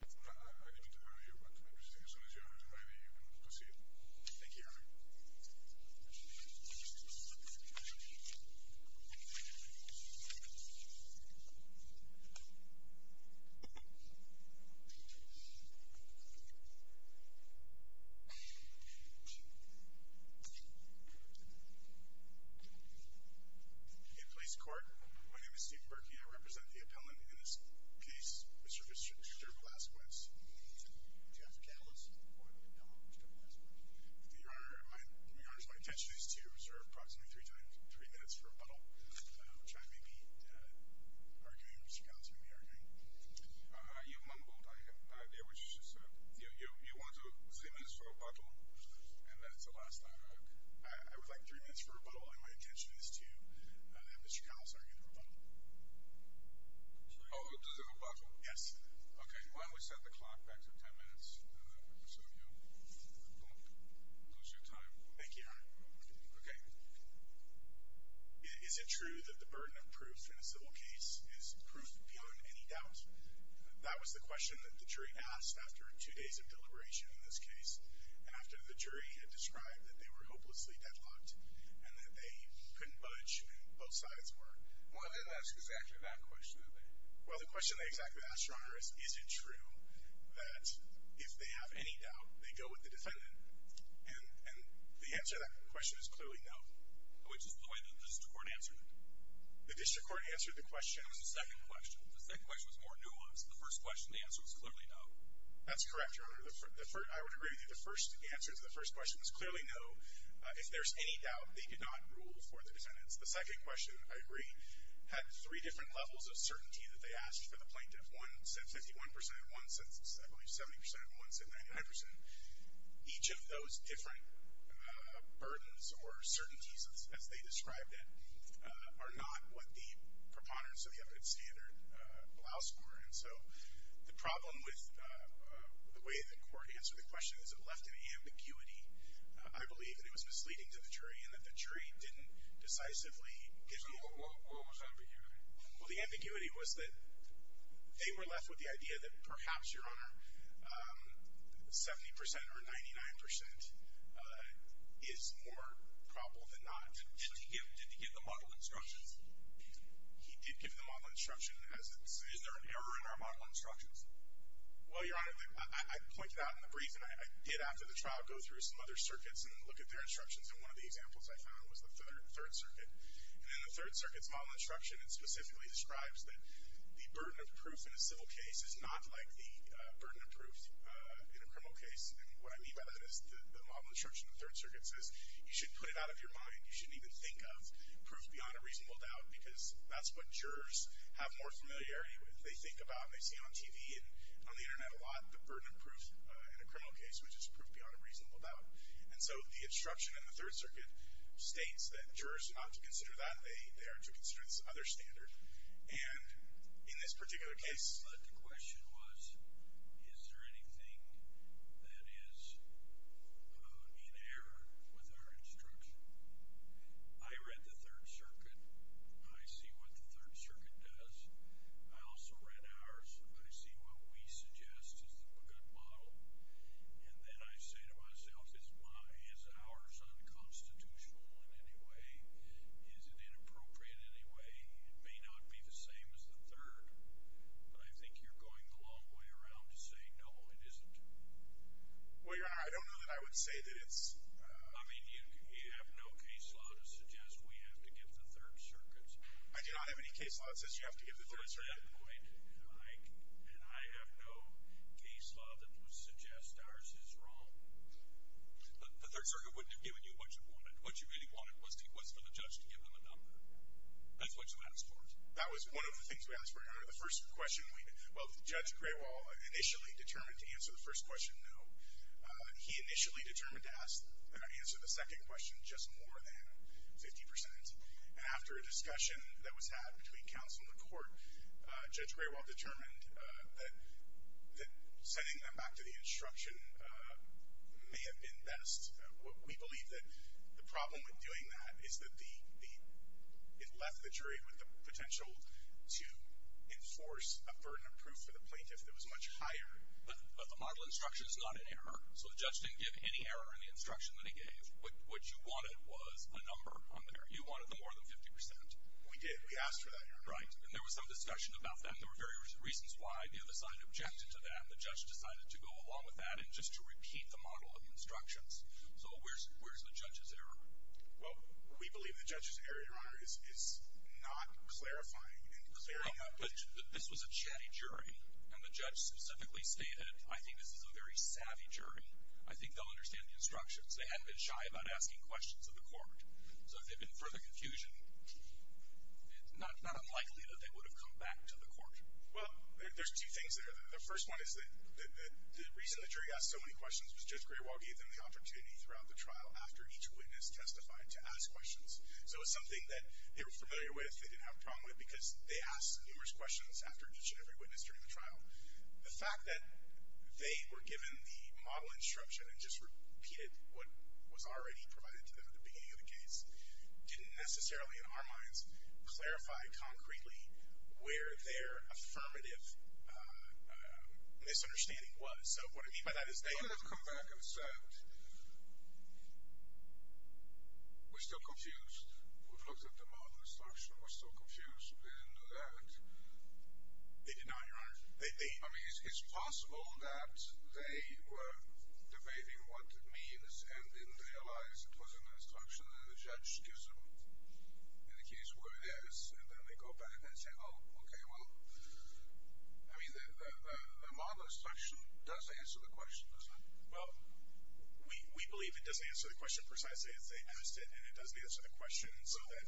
I need you to hurry up. I'm just saying as soon as you have everything ready, you can proceed. Thank you, Your Honor. In police court, my name is Stephen Berkey. I represent the appellant in this case, Mr. Victor Velasquez. Do you have the catalyst for the abdomen, Mr. Velasquez? Your Honor, my intention is to reserve approximately three minutes for rebuttal. Which I may be arguing, Mr. Callas may be arguing. You mumbled. You want three minutes for rebuttal? And that's the last time. I would like three minutes for rebuttal. And my intention is to have Mr. Callas argue for rebuttal. Oh, to reserve rebuttal? Yes. Okay, why don't we set the clock back to ten minutes so you won't lose your time. Thank you, Your Honor. Okay. Is it true that the burden of proof in a civil case is proof beyond any doubt? That was the question that the jury asked after two days of deliberation in this case, and after the jury had described that they were hopelessly deadlocked, and that they couldn't budge, and both sides were. Well, I didn't ask exactly that question, did I? Well, the question they exactly asked, Your Honor, is, is it true that if they have any doubt, they go with the defendant? And the answer to that question is clearly no. Which is the way the district court answered it? The district court answered the question. It was the second question. The second question was more nuanced. The first question, the answer was clearly no. That's correct, Your Honor. I would agree with you. The first answer to the first question was clearly no. If there's any doubt, they did not rule for the defendants. The second question, I agree, had three different levels of certainty that they asked for the plaintiff. One said 51 percent, one said, I believe, 70 percent, and one said 99 percent. Each of those different burdens or certainties, as they described it, are not what the preponderance of the evidence standard allows for. And so the problem with the way the court answered the question is it left an ambiguity, I believe, that it was misleading to the jury and that the jury didn't decisively give the answer. So what was the ambiguity? Well, the ambiguity was that they were left with the idea that perhaps, Your Honor, 70 percent or 99 percent is more probable than not. Did he give the model instructions? He did give the model instructions. Is there an error in our model instructions? Well, Your Honor, I pointed out in the brief, and I did after the trial go through some other circuits and look at their instructions, and one of the examples I found was the Third Circuit. And in the Third Circuit's model instruction, it specifically describes that the burden of proof in a civil case is not like the burden of proof in a criminal case. And what I mean by that is the model instruction of the Third Circuit says you should put it out of your mind. You shouldn't even think of proof beyond a reasonable doubt because that's what jurors have more familiarity with. They think about and they see on TV and on the Internet a lot the burden of proof in a criminal case, which is proof beyond a reasonable doubt. And so the instruction in the Third Circuit states that jurors are not to consider that. They are to consider this other standard. And in this particular case, the question was, is there anything that is in error with our instruction? I read the Third Circuit. I see what the Third Circuit does. I also read ours. I see what we suggest is a good model. And then I say to myself, is ours unconstitutional in any way? Is it inappropriate in any way? It may not be the same as the Third. But I think you're going the long way around to say, no, it isn't. Well, Your Honor, I don't know that I would say that it's... I mean, you have no case law to suggest we have to give the Third Circuit's... I do not have any case law that says you have to give the Third Circuit. At that point, I have no case law that would suggest ours is wrong. The Third Circuit wouldn't have given you what you wanted. What you really wanted was for the judge to give them a number. That's what you asked for. That was one of the things we asked for, Your Honor. The first question we'd... Well, Judge Grewal initially determined to answer the first question, no. He initially determined to answer the second question just more than 50%. And after a discussion that was had between counsel and the court, Judge Grewal determined that sending them back to the instruction may have been best. We believe that the problem with doing that is that it left the jury with the potential to enforce a burden of proof for the plaintiff that was much higher. But the model instruction is not an error. So the judge didn't give any error in the instruction that he gave. What you wanted was a number on the error. You wanted the more than 50%. We did. We asked for that, Your Honor. Right. And there was some discussion about that. There were various reasons why. The other side objected to that. The judge decided to go along with that and just to repeat the model of the instructions. So where's the judge's error? Well, we believe the judge's error, Your Honor, is not clarifying and clearing up... But this was a chatty jury, and the judge specifically stated, I think this is a very savvy jury. I think they'll understand the instructions. They hadn't been shy about asking questions of the court. So if there had been further confusion, it's not unlikely that they would have come back to the court. Well, there's two things there. The first one is that the reason the jury asked so many questions was Judge Greerwald gave them the opportunity throughout the trial after each witness testified to ask questions. So it was something that they were familiar with, they didn't have a problem with, because they asked numerous questions after each and every witness during the trial. The fact that they were given the model instruction and just repeated what was already provided to them at the beginning of the case didn't necessarily, in our minds, clarify concretely where their affirmative misunderstanding was. So what I mean by that is they... They could have come back and said, We're still confused. We've looked at the model instruction. We're still confused. We didn't know that. They did not, Your Honor. I mean, it's possible that they were debating what it means and didn't realize it was an instruction that the judge gives them in the case where it is, and then they go back and say, Oh, okay, well... I mean, the model instruction does answer the question, doesn't it? Well, we believe it does answer the question precisely as they asked it, and it does answer the question so that...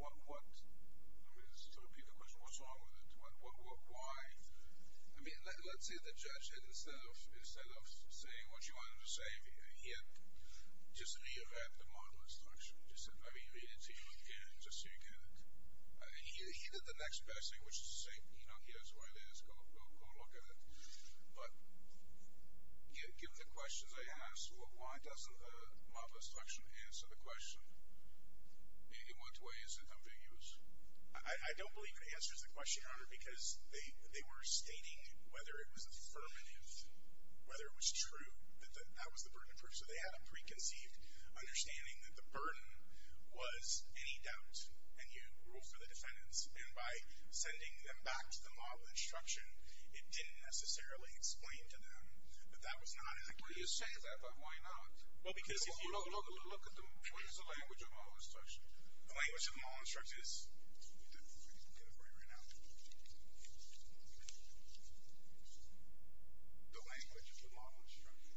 What? I mean, so repeat the question. What's wrong with it? What? Why? I mean, let's say the judge had, instead of saying what you wanted him to say, he had just rewrapped the model instruction, just said, Let me read it to you again just so you get it. He did the next passing, which is the same. Here's what it is. Go look at it. But given the questions they asked, why doesn't the model instruction answer the question? In what way is it ambiguous? I don't believe it answers the question, Your Honor, because they were stating whether it was affirmative, whether it was true that that was the burden of proof. So they had a preconceived understanding that the burden was any doubt, and you rule for the defendants. And by sending them back to the model instruction, it didn't necessarily explain to them that that was not ambiguous. Well, you say that, but why not? Well, because if you... Look at the... What is the language of the model instruction? The language of the model instruction is... Let me get a break right now. The language of the model instruction.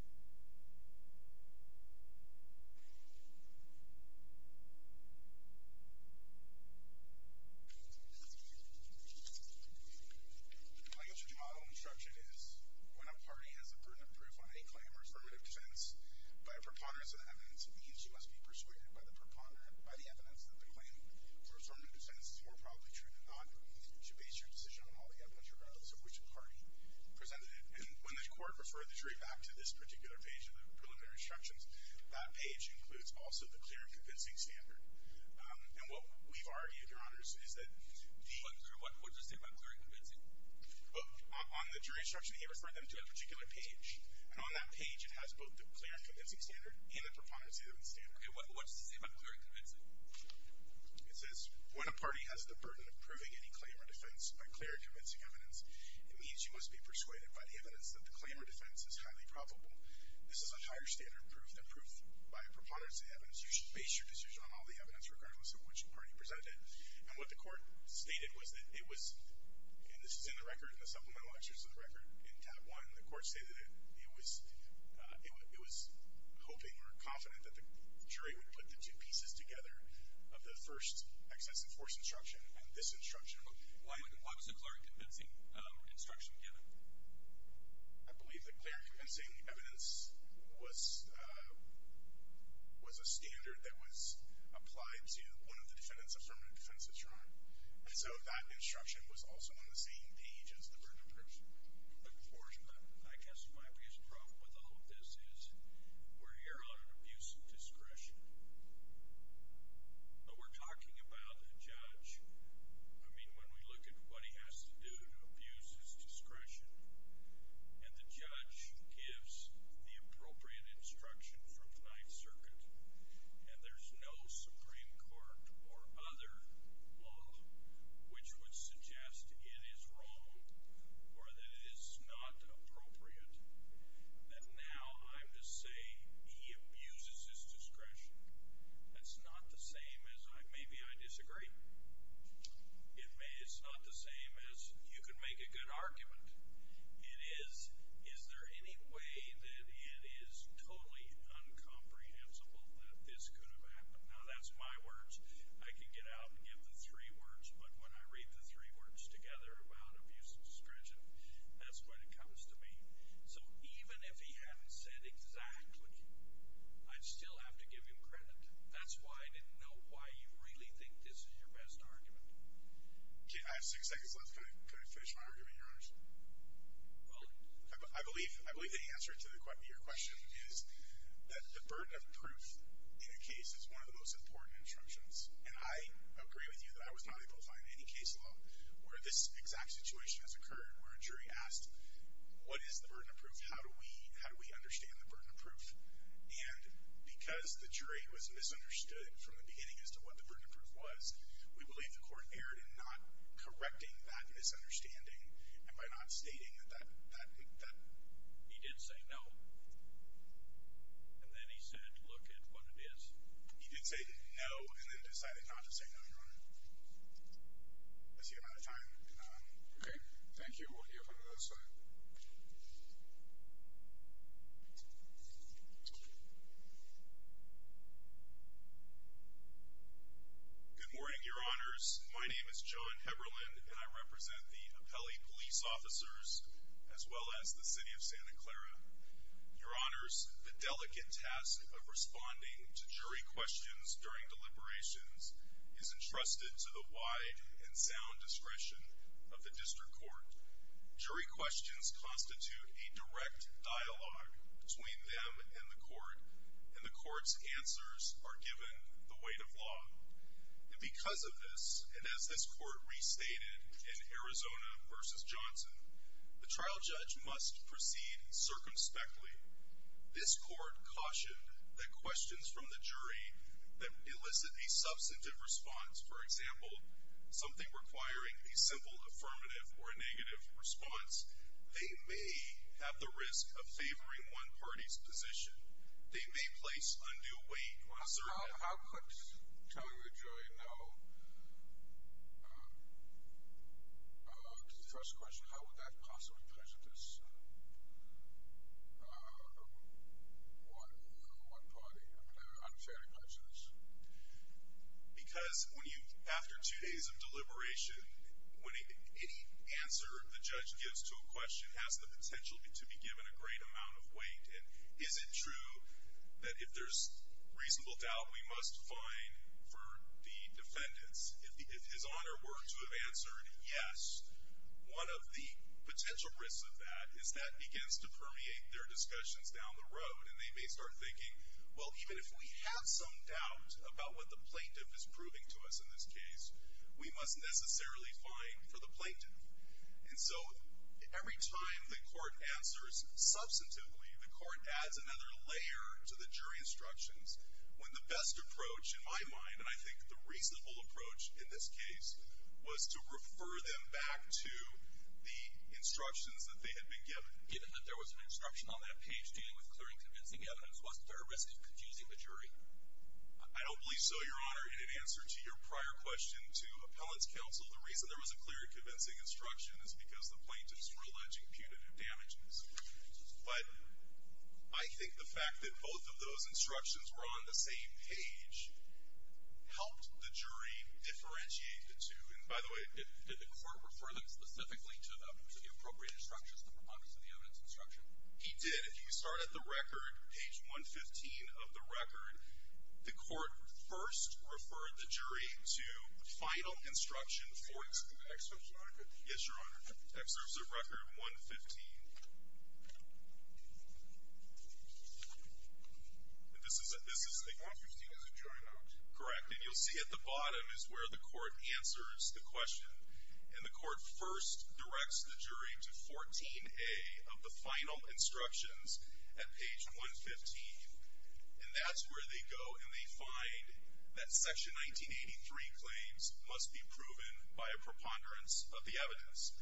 The language of the model instruction is... Okay, what does it say about clear and convincing? On the jury instruction, he referred them to a particular page. And on that page, it has both the clear and convincing standard and the preponderance evidence standard. Okay, what does it say about clear and convincing? It says, when a party has the burden of proving any claim or defense by clear and convincing evidence, it means you must be persuaded by the evidence that the claim or defense is highly probable. This is a higher standard proof than proof by a preponderance evidence. You should base your decision on all the evidence, regardless of which party presented it. And what the court stated was that it was... And this is in the record, in the supplemental excerpts of the record, in tab one. The court stated it was... It was hoping or confident that the jury would put the two pieces together of the first excessive force instruction and this instruction. Why was the clear and convincing instruction given? I believe the clear and convincing evidence was a standard that was applied to one of the defendants, affirmative defendants of Toronto. And so that instruction was also on the same page as the burden of proof. But, George, I guess my biggest problem with all of this is we're here on an abuse of discretion. But we're talking about a judge. I mean, when we look at what he has to do to abuse his discretion, and the judge gives the appropriate instruction from the Ninth Circuit, and there's no Supreme Court or other law which would suggest it is wrong or that it is not appropriate, that now I'm to say he abuses his discretion. That's not the same as... Maybe I disagree. It's not the same as you can make a good argument. Is there any way that it is totally uncomprehensible that this could have happened? Now, that's my words. I can get out and give the three words, but when I read the three words together about abuse of discretion, that's when it comes to me. So even if he hadn't said exactly, I'd still have to give him credit. That's why I didn't know why you really think this is your best argument. Okay, I have six seconds left. Can I finish my argument, Your Honors? Well, I believe the answer to your question is that the burden of proof in a case is one of the most important instructions, and I agree with you that I was not able to find any case law where this exact situation has occurred where a jury asked, what is the burden of proof? How do we understand the burden of proof? And because the jury was misunderstood from the beginning as to what the burden of proof was, we believe the court erred in not correcting that misunderstanding and by not stating that that... He did say no, and then he said, look at what it is. He did say no, and then decided not to say no, Your Honor. I see we're out of time. Okay, thank you. We'll see you up on the other side. Thank you. Good morning, Your Honors. My name is John Heberlin, and I represent the Appelli Police Officers as well as the City of Santa Clara. Your Honors, the delicate task of responding to jury questions during deliberations is entrusted to the wide and sound discretion of the District Court. Jury questions constitute a direct dialogue between them and the court, and the court's answers are given the weight of law. And because of this, and as this court restated in Arizona v. Johnson, the trial judge must proceed circumspectly. This court cautioned that questions from the jury that elicit a substantive response, for example, something requiring a simple affirmative or a negative response, they may have the risk of favoring one party's position. They may place undue weight on a certain... How could telling the jury no... To the first question, how would that possibly prejudice one party? Unfairly prejudice? Because when you, after two days of deliberation, any answer the judge gives to a question has the potential to be given a great amount of weight, and is it true that if there's reasonable doubt, we must fine for the defendants? If His Honor were to have answered yes, one of the potential risks of that is that begins to permeate their discussions down the road, and they may start thinking, well, even if we have some doubt about what the plaintiff is proving to us in this case, we must necessarily fine for the plaintiff. And so every time the court answers substantively, the court adds another layer to the jury instructions when the best approach, in my mind, and I think the reasonable approach in this case, was to refer them back to the instructions that they had been given. Even if there was an instruction on that page dealing with clearing convincing evidence, wasn't there a risk of confusing the jury? I don't believe so, Your Honor. In answer to your prior question to Appellant's Counsel, the reason there was a clear convincing instruction is because the plaintiffs were alleging punitive damages. But I think the fact that both of those instructions were on the same page helped the jury differentiate the two. And by the way... Did the court refer them specifically to the appropriate instructions, the proponents of the evidence instruction? He did. If you start at the record, page 115 of the record, the court first referred the jury to the final instruction for... Excerpts of record? Yes, Your Honor. Excerpts of record 115. This is the... 115 is a jury note. Correct. And you'll see at the bottom is where the court answers the question. And the court first directs the jury to 14A of the final instructions at page 115. And that's where they go, and they find that section 1983 claims must be proven by a preponderance of the evidence.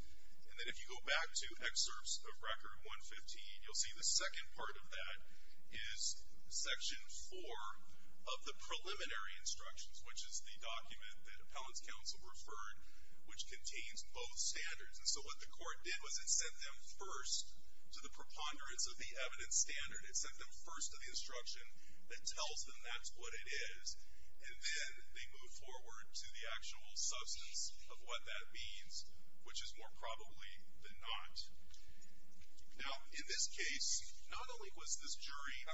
And then if you go back to excerpts of record 115, you'll see the second part of that is section 4 of the preliminary instructions, which is the document that Appellant's Counsel referred which contains both standards. And so what the court did was it sent them first to the preponderance of the evidence standard. It sent them first to the instruction that tells them that's what it is, and then they move forward to the actual substance of what that means, which is more probably the not. Now, in this case, not only was this jury... In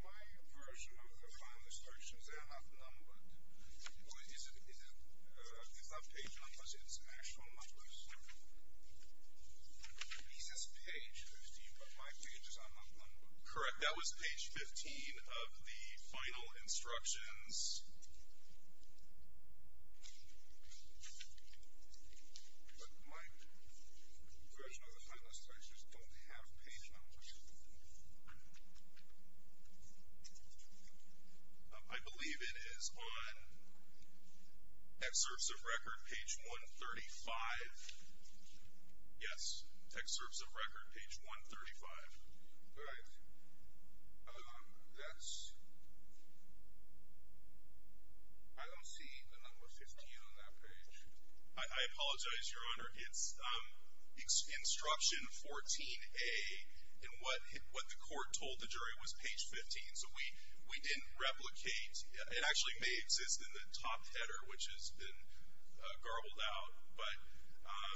my version of the final instructions, they are not numbered. It's not page numbers. It's actual numbers. He says page 15, but my page is not numbered. Correct, that was page 15 of the final instructions. But my version of the final instructions don't have page numbers. I believe it is on... Excerpts of record page 135. Yes, excerpts of record page 135. All right. That's... I don't see the number 15 on that page. I apologize, Your Honor. It's instruction 14A, and what the court told the jury was page 15, so we didn't replicate. It actually may exist in the top header, which has been garbled out, but...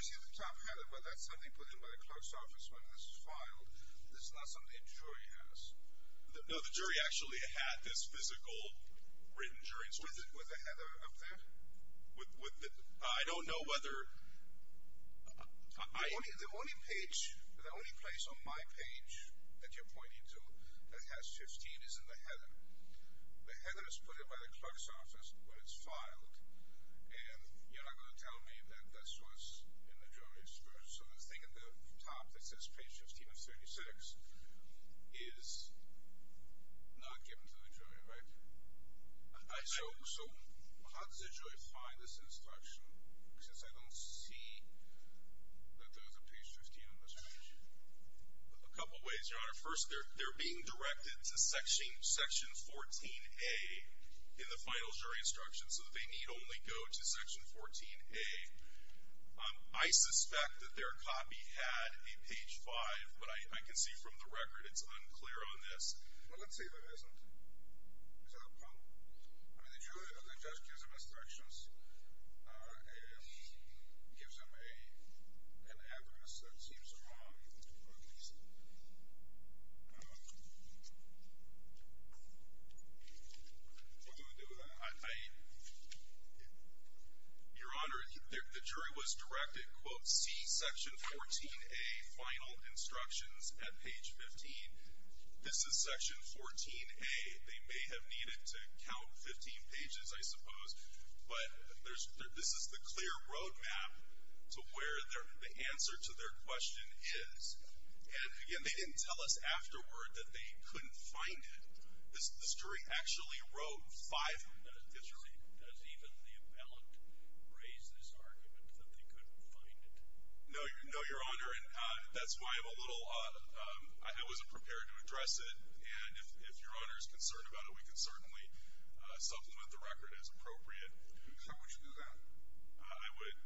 It's in the top header, but that's something put in by the clerk's office when this is filed. This is not something the jury has. No, the jury actually had this physical written jury instruction. With the header up there? I don't know whether... The only page, the only place on my page that you're pointing to that has 15 is in the header. The header is put in by the clerk's office when it's filed, and you're not going to tell me that this was in the jury's... So the thing in the top that says page 15 of 36 is not given to the jury, right? So how does the jury find this instruction, since I don't see that there's a page 15 on this page? A couple ways, Your Honor. First, they're being directed to section 14A in the final jury instruction, so they need only go to section 14A. I suspect that their copy had a page 5, but I can see from the record it's unclear on this. Well, let's say that it isn't. Is that a problem? I mean, the judge gives them instructions, and gives them an address that seems wrong, at least. What do you want to do with that? Your Honor, the jury was directed, quote, see section 14A final instructions at page 15. This is section 14A. But this is the clear road map to where the answer to their question is. And again, they didn't tell us afterward that they couldn't find it. The jury actually wrote five minutes. Does even the appellant raise this argument that they couldn't find it? No, Your Honor, and that's why I'm a little... I wasn't prepared to address it, and if Your Honor is concerned about it, we can certainly supplement the record as appropriate. How would you do that? I would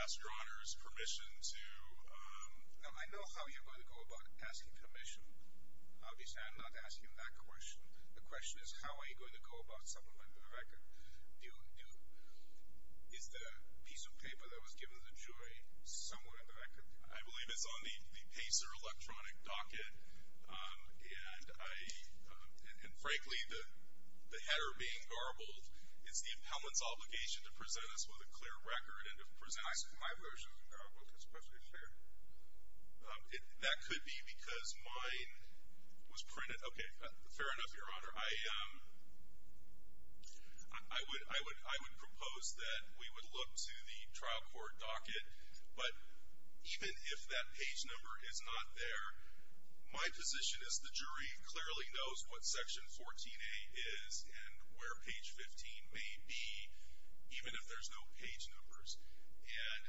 ask Your Honor's permission to... I know how you're going to go about asking permission. Obviously, I'm not asking that question. The question is, how are you going to go about supplementing the record? Is the piece of paper that was given to the jury somewhere in the record? I believe it's on the Pacer electronic docket, and frankly, the header being garbled is the appellant's obligation to present us with a clear record and to present... My version of the garbled is perfectly clear. That could be because mine was printed... Okay, fair enough, Your Honor. I would propose that we would look to the trial court docket, but even if that page number is not there, my position is the jury clearly knows what section 14A is and where page 15 may be, even if there's no page numbers. And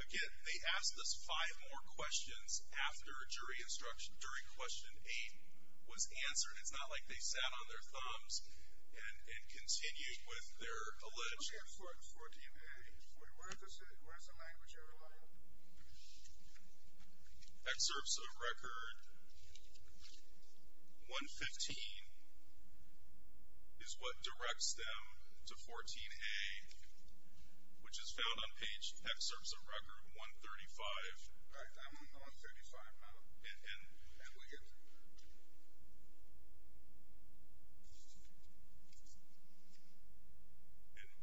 again, they asked us five more questions after jury instruction during question 8 was answered. It's not like they sat on their thumbs and continued with their allege... Okay, 14A. Where's the language, Your Honor? Excerpts of Record 115 is what directs them to 14A, which is found on page Excerpts of Record 135. All right, I'm on 135 now. And we can...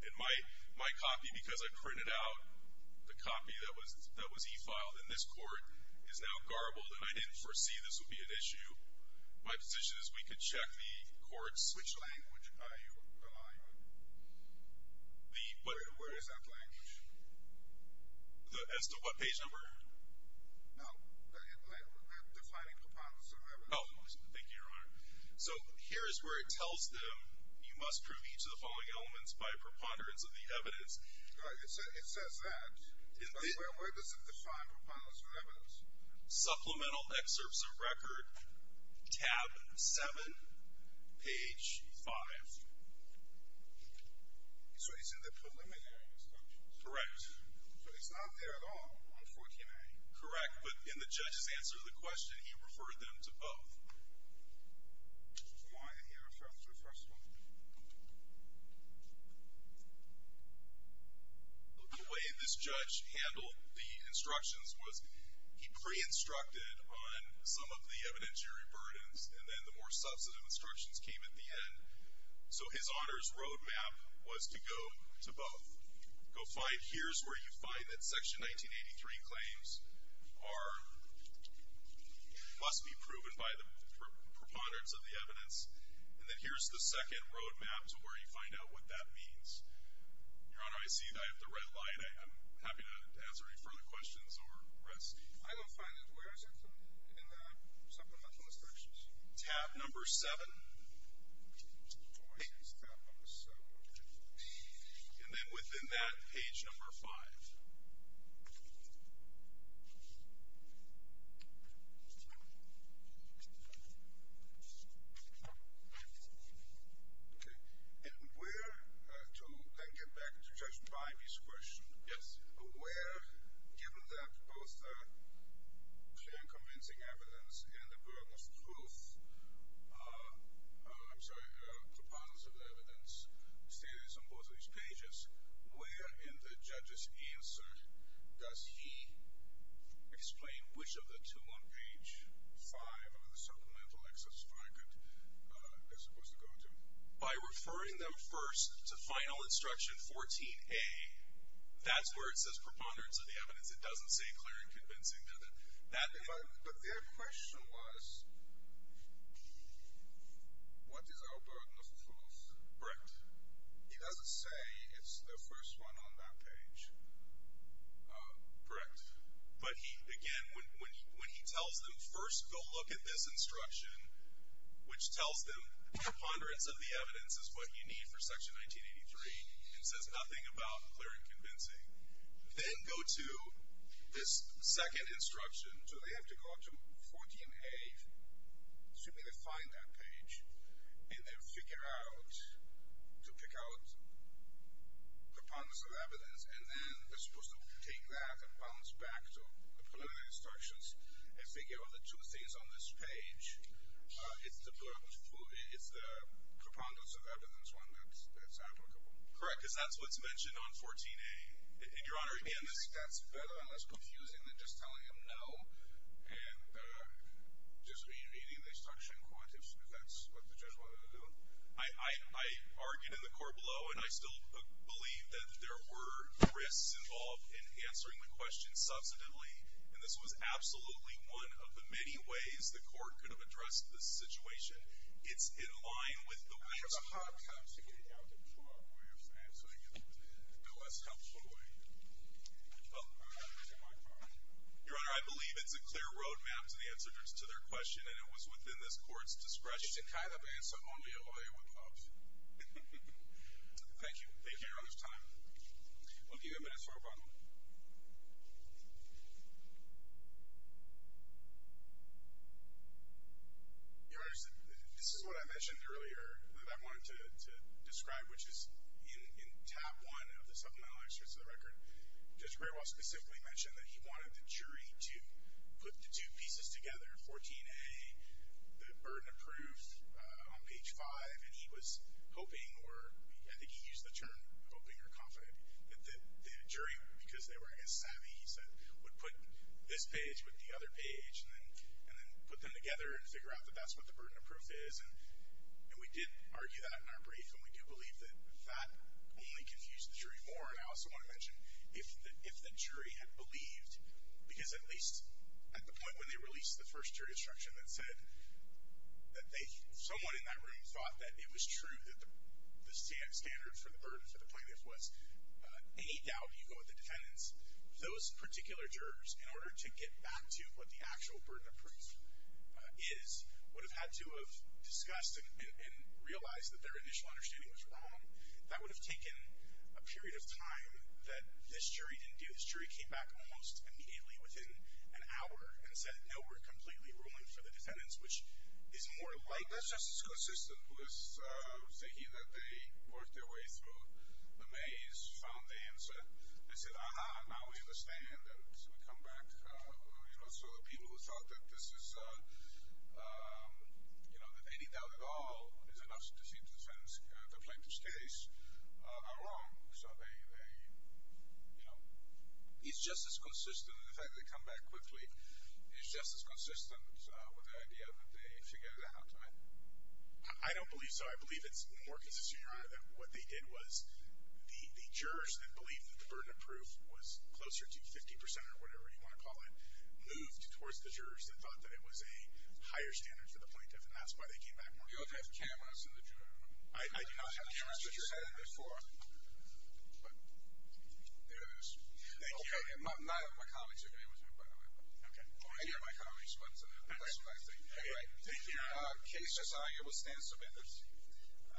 And my copy, because I printed out the copy that was e-filed in this court, is now garbled, and I didn't foresee this would be an issue. My position is we could check the court's... Which language are you allying with? Where is that language? As to what page number? No, I'm defining components of that language. Oh, thank you, Your Honor. So here is where it tells them you must prove each of the following elements by preponderance of the evidence. Right, it says that. But where does it define preponderance of evidence? Supplemental Excerpts of Record, tab 7, page 5. So it's in the preliminary instructions? Correct. So it's not there at all on 14A? Correct, but in the judge's answer to the question, he referred them to both. I want to hear a reference to the first one. The way this judge handled the instructions was he pre-instructed on some of the evidentiary burdens, and then the more substantive instructions came at the end. So his honor's road map was to go to both. Go find... Here's where you find that Section 1983 claims must be proven by the preponderance of the evidence, and then here's the second road map to where you find out what that means. Your Honor, I see that I have the red light. I'm happy to answer any further questions or rest. I will find it. Where is it? In the supplemental instructions. Tab number 7. And then within that, page number 5. Okay. And where... To then get back to Judge Bimey's question. Yes. Where, given that both the clear and convincing evidence and the burden of truth... I'm sorry, preponderance of the evidence stated on both of these pages, where in the judge's answer does he explain which of the two on page 5 of the supplemental exercise I'm supposed to go to? By referring them first to Final Instruction 14A, that's where it says preponderance of the evidence. It doesn't say clear and convincing. But their question was... What is our burden of truth? Correct. He doesn't say it's the first one on that page. Correct. But he, again, when he tells them, first go look at this instruction, which tells them preponderance of the evidence is what you need for Section 1983, and says nothing about clear and convincing. Then go to this second instruction. So they have to go up to 14A, assuming they find that page, and then figure out... to pick out preponderance of evidence, and then they're supposed to take that and bounce back to the preliminary instructions and figure out the two things on this page. It's the preponderance of evidence one that's applicable. Correct, because that's what's mentioned on 14A. And, Your Honor, again, that's better and less confusing than just telling them no and just rereading the instruction because that's what the judge wanted to do. I argued in the court below, and I still believe that there were risks involved in answering the question. Subsequently, and this was absolutely one of the many ways the court could have addressed this situation, it's in line with the... I have a hard time figuring out the problem with answering it in a less helpful way. Well... Your Honor, I believe it's a clear road map to the answer to their question, and it was within this court's discretion... It's a kind of answer only a lawyer would pose. Thank you. Thank you, Your Honor, for your time. We'll give you a minute for rebuttal. Your Honor, this is what I mentioned earlier that I wanted to describe, which is in tab one of the supplemental extracts of the record, Judge Greer will specifically mention that he wanted the jury to put the two pieces together, 14A, the burden of proof, on page 5, and he was hoping, or I think he used the term hoping or confident, that the jury, because they were, I guess, savvy, he said, would put this page with the other page and then put them together and figure out that that's what the burden of proof is, and we did argue that in our brief, and we do believe that that only confused the jury more, and I also want to mention if the jury had believed, because at least at the point when they released the first jury instruction that said that someone in that room thought that it was true that the standard for the burden for the plaintiff was, any doubt you go with the defendants, those particular jurors, in order to get back to what the actual burden of proof is, would have had to have discussed and realized that their initial understanding was wrong. That would have taken a period of time that this jury didn't do. This jury came back almost immediately, within an hour, and said, no, we're completely ruling for the defendants, which is more likely... That's just as consistent with thinking that they worked their way through the maze, found the answer, and said, uh-huh, now we understand, and so we come back, you know, so the people who thought that this is, you know, that any doubt at all is enough to see that the plaintiff's case are wrong. So they, you know, it's just as consistent... In fact, they come back quickly. It's just as consistent with the idea that they figured it out, right? I don't believe so. I believe it's more consistent, Your Honor, that what they did was the jurors that believed that the burden of proof was closer to 50% or whatever you want to call it moved towards the jurors that thought that it was a higher standard for the plaintiff, and that's why they came back more quickly. You don't have cameras in the jury room. I do not have cameras, but you said it before. But there it is. Thank you, Your Honor. None of my colleagues have cameras, by the way. Or any of my colleagues, but that's what I think. All right. Thank you, Your Honor. The case is on. It will stand submitted.